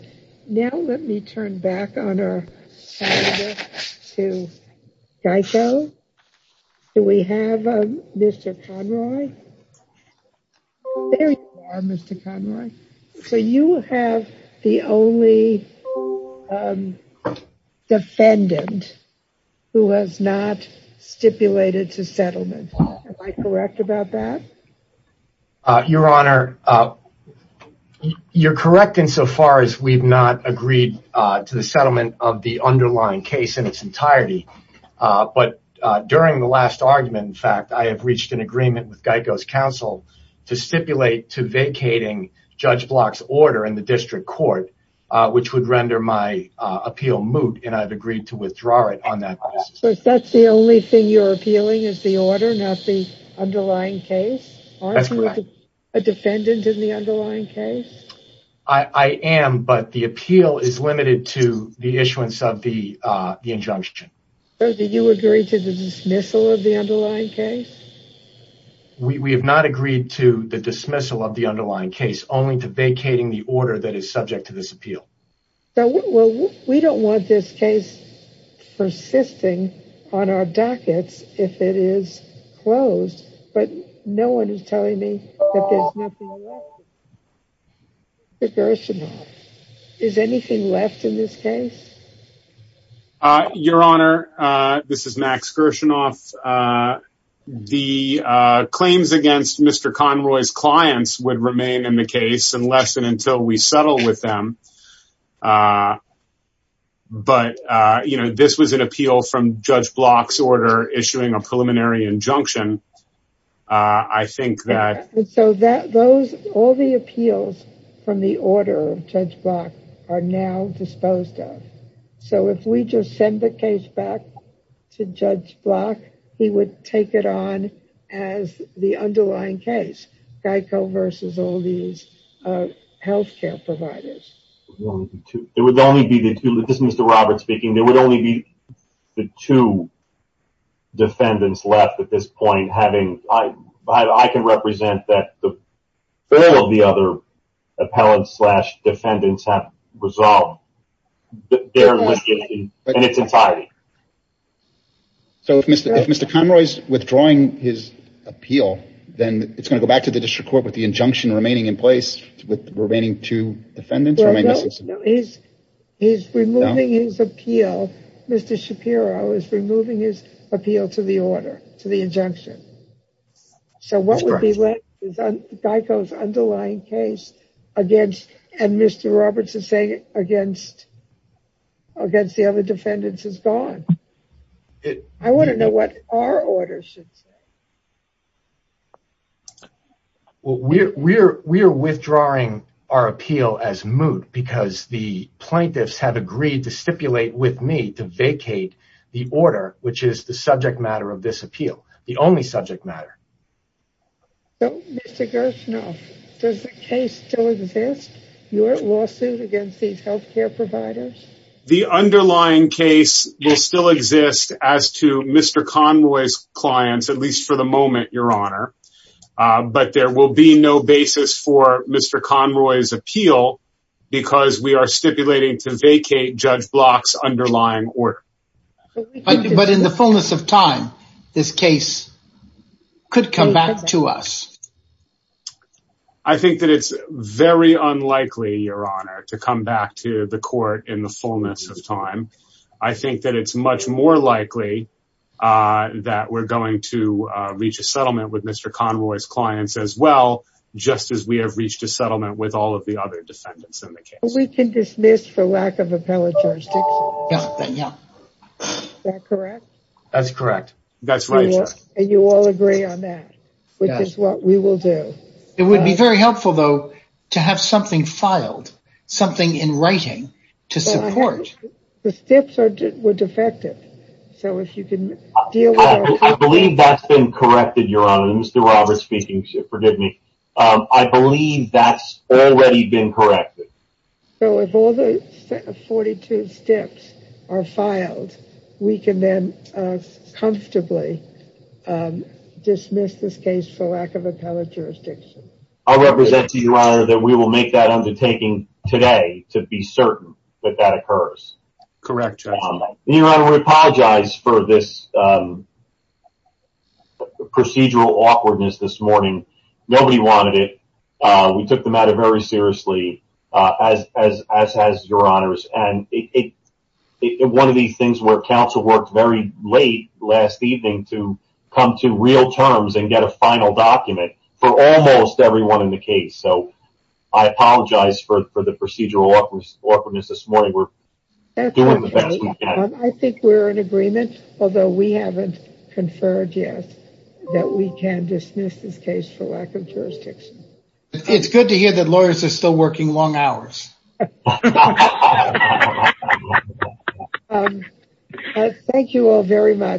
Now let me turn back on our to Geico. Do we have Mr. Conroy? There you are, Mr. Conroy. So you have the only defendant who has not stipulated to settlement. Am I correct about that? Your Honor, you're correct insofar as we've not agreed to the settlement of the underlying case in its entirety. But during the last argument, in fact, I have reached an agreement with Geico's counsel to stipulate to vacating Judge Block's order in the district court, which would render my appeal moot. And I've agreed to withdraw it on that basis. So that's the only thing you're appealing is the order, not the underlying case? That's correct. Are you a defendant in the underlying case? I am. But the appeal is limited to the issuance of the injunction. So did you agree to the dismissal of the underlying case? We have not agreed to the dismissal of the underlying case, only to vacating the order that is subject to this appeal. So we don't want this case persisting on our dockets if it is closed. But no one is telling me that there's nothing left. Max Gershinoff, is anything left in this case? Your Honor, this is Max Gershinoff. The claims against Mr. Conroy's clients would remain in the case unless and until we settle with them. But, you know, this was an appeal from Judge Block's order issuing a preliminary injunction. So all the appeals from the order of Judge Block are now disposed of. So if we just send the case back to Judge Block, he would take it on as the underlying case. Geico versus all these health care providers. It would only be, this is Mr. Roberts speaking, there would only be the two defendants left at this point. I can represent that all of the other appellants slash defendants have resolved their litigation in its entirety. So if Mr. Conroy's withdrawing his appeal, then it's going to go back to the district court with the injunction remaining in place with the remaining two defendants? He's removing his appeal. Mr. Shapiro is removing his appeal to the order, to the injunction. So what would be left is Geico's underlying case against, and Mr. Roberts is saying, against the other defendants is gone. I want to know what our order should say. Well, we're withdrawing our appeal as moot because the plaintiffs have agreed to stipulate with me to vacate the order, which is the subject matter of this appeal. The only subject matter. So, Mr. Gershinoff, does the case still exist? Your lawsuit against these health care providers? The underlying case will still exist as to Mr. Conroy's clients, at least for the moment, Your Honor. But there will be no basis for Mr. Conroy's appeal because we are stipulating to vacate Judge Block's underlying order. But in the fullness of time, this case could come back to us. I think that it's very unlikely, Your Honor, to come back to the court in the fullness of time. I think that it's much more likely that we're going to reach a settlement with Mr. Conroy's clients as well. Just as we have reached a settlement with all of the other defendants in the case. We can dismiss for lack of appellate Judge Dixon. Yeah. Is that correct? That's correct. That's right, Your Honor. And you all agree on that, which is what we will do. It would be very helpful, though, to have something filed, something in writing to support. The steps were defective. So, if you can deal with that. I believe that's been corrected, Your Honor. Mr. Roberts speaking, forgive me. I believe that's already been corrected. So, if all the 42 steps are filed, we can then comfortably dismiss this case for lack of appellate jurisdiction. I represent to you, Your Honor, that we will make that undertaking today to be certain that that occurs. Correct, Judge. Your Honor, we apologize for this procedural awkwardness this morning. Nobody wanted it. We took the matter very seriously, as has Your Honor. And one of these things where counsel worked very late last evening to come to real terms and get a final document for almost everyone in the case. So, I apologize for the procedural awkwardness this morning. We're doing the best we can. I think we're in agreement, although we haven't conferred yet, that we can dismiss this case for lack of jurisdiction. It's good to hear that lawyers are still working long hours. Thank you all very much.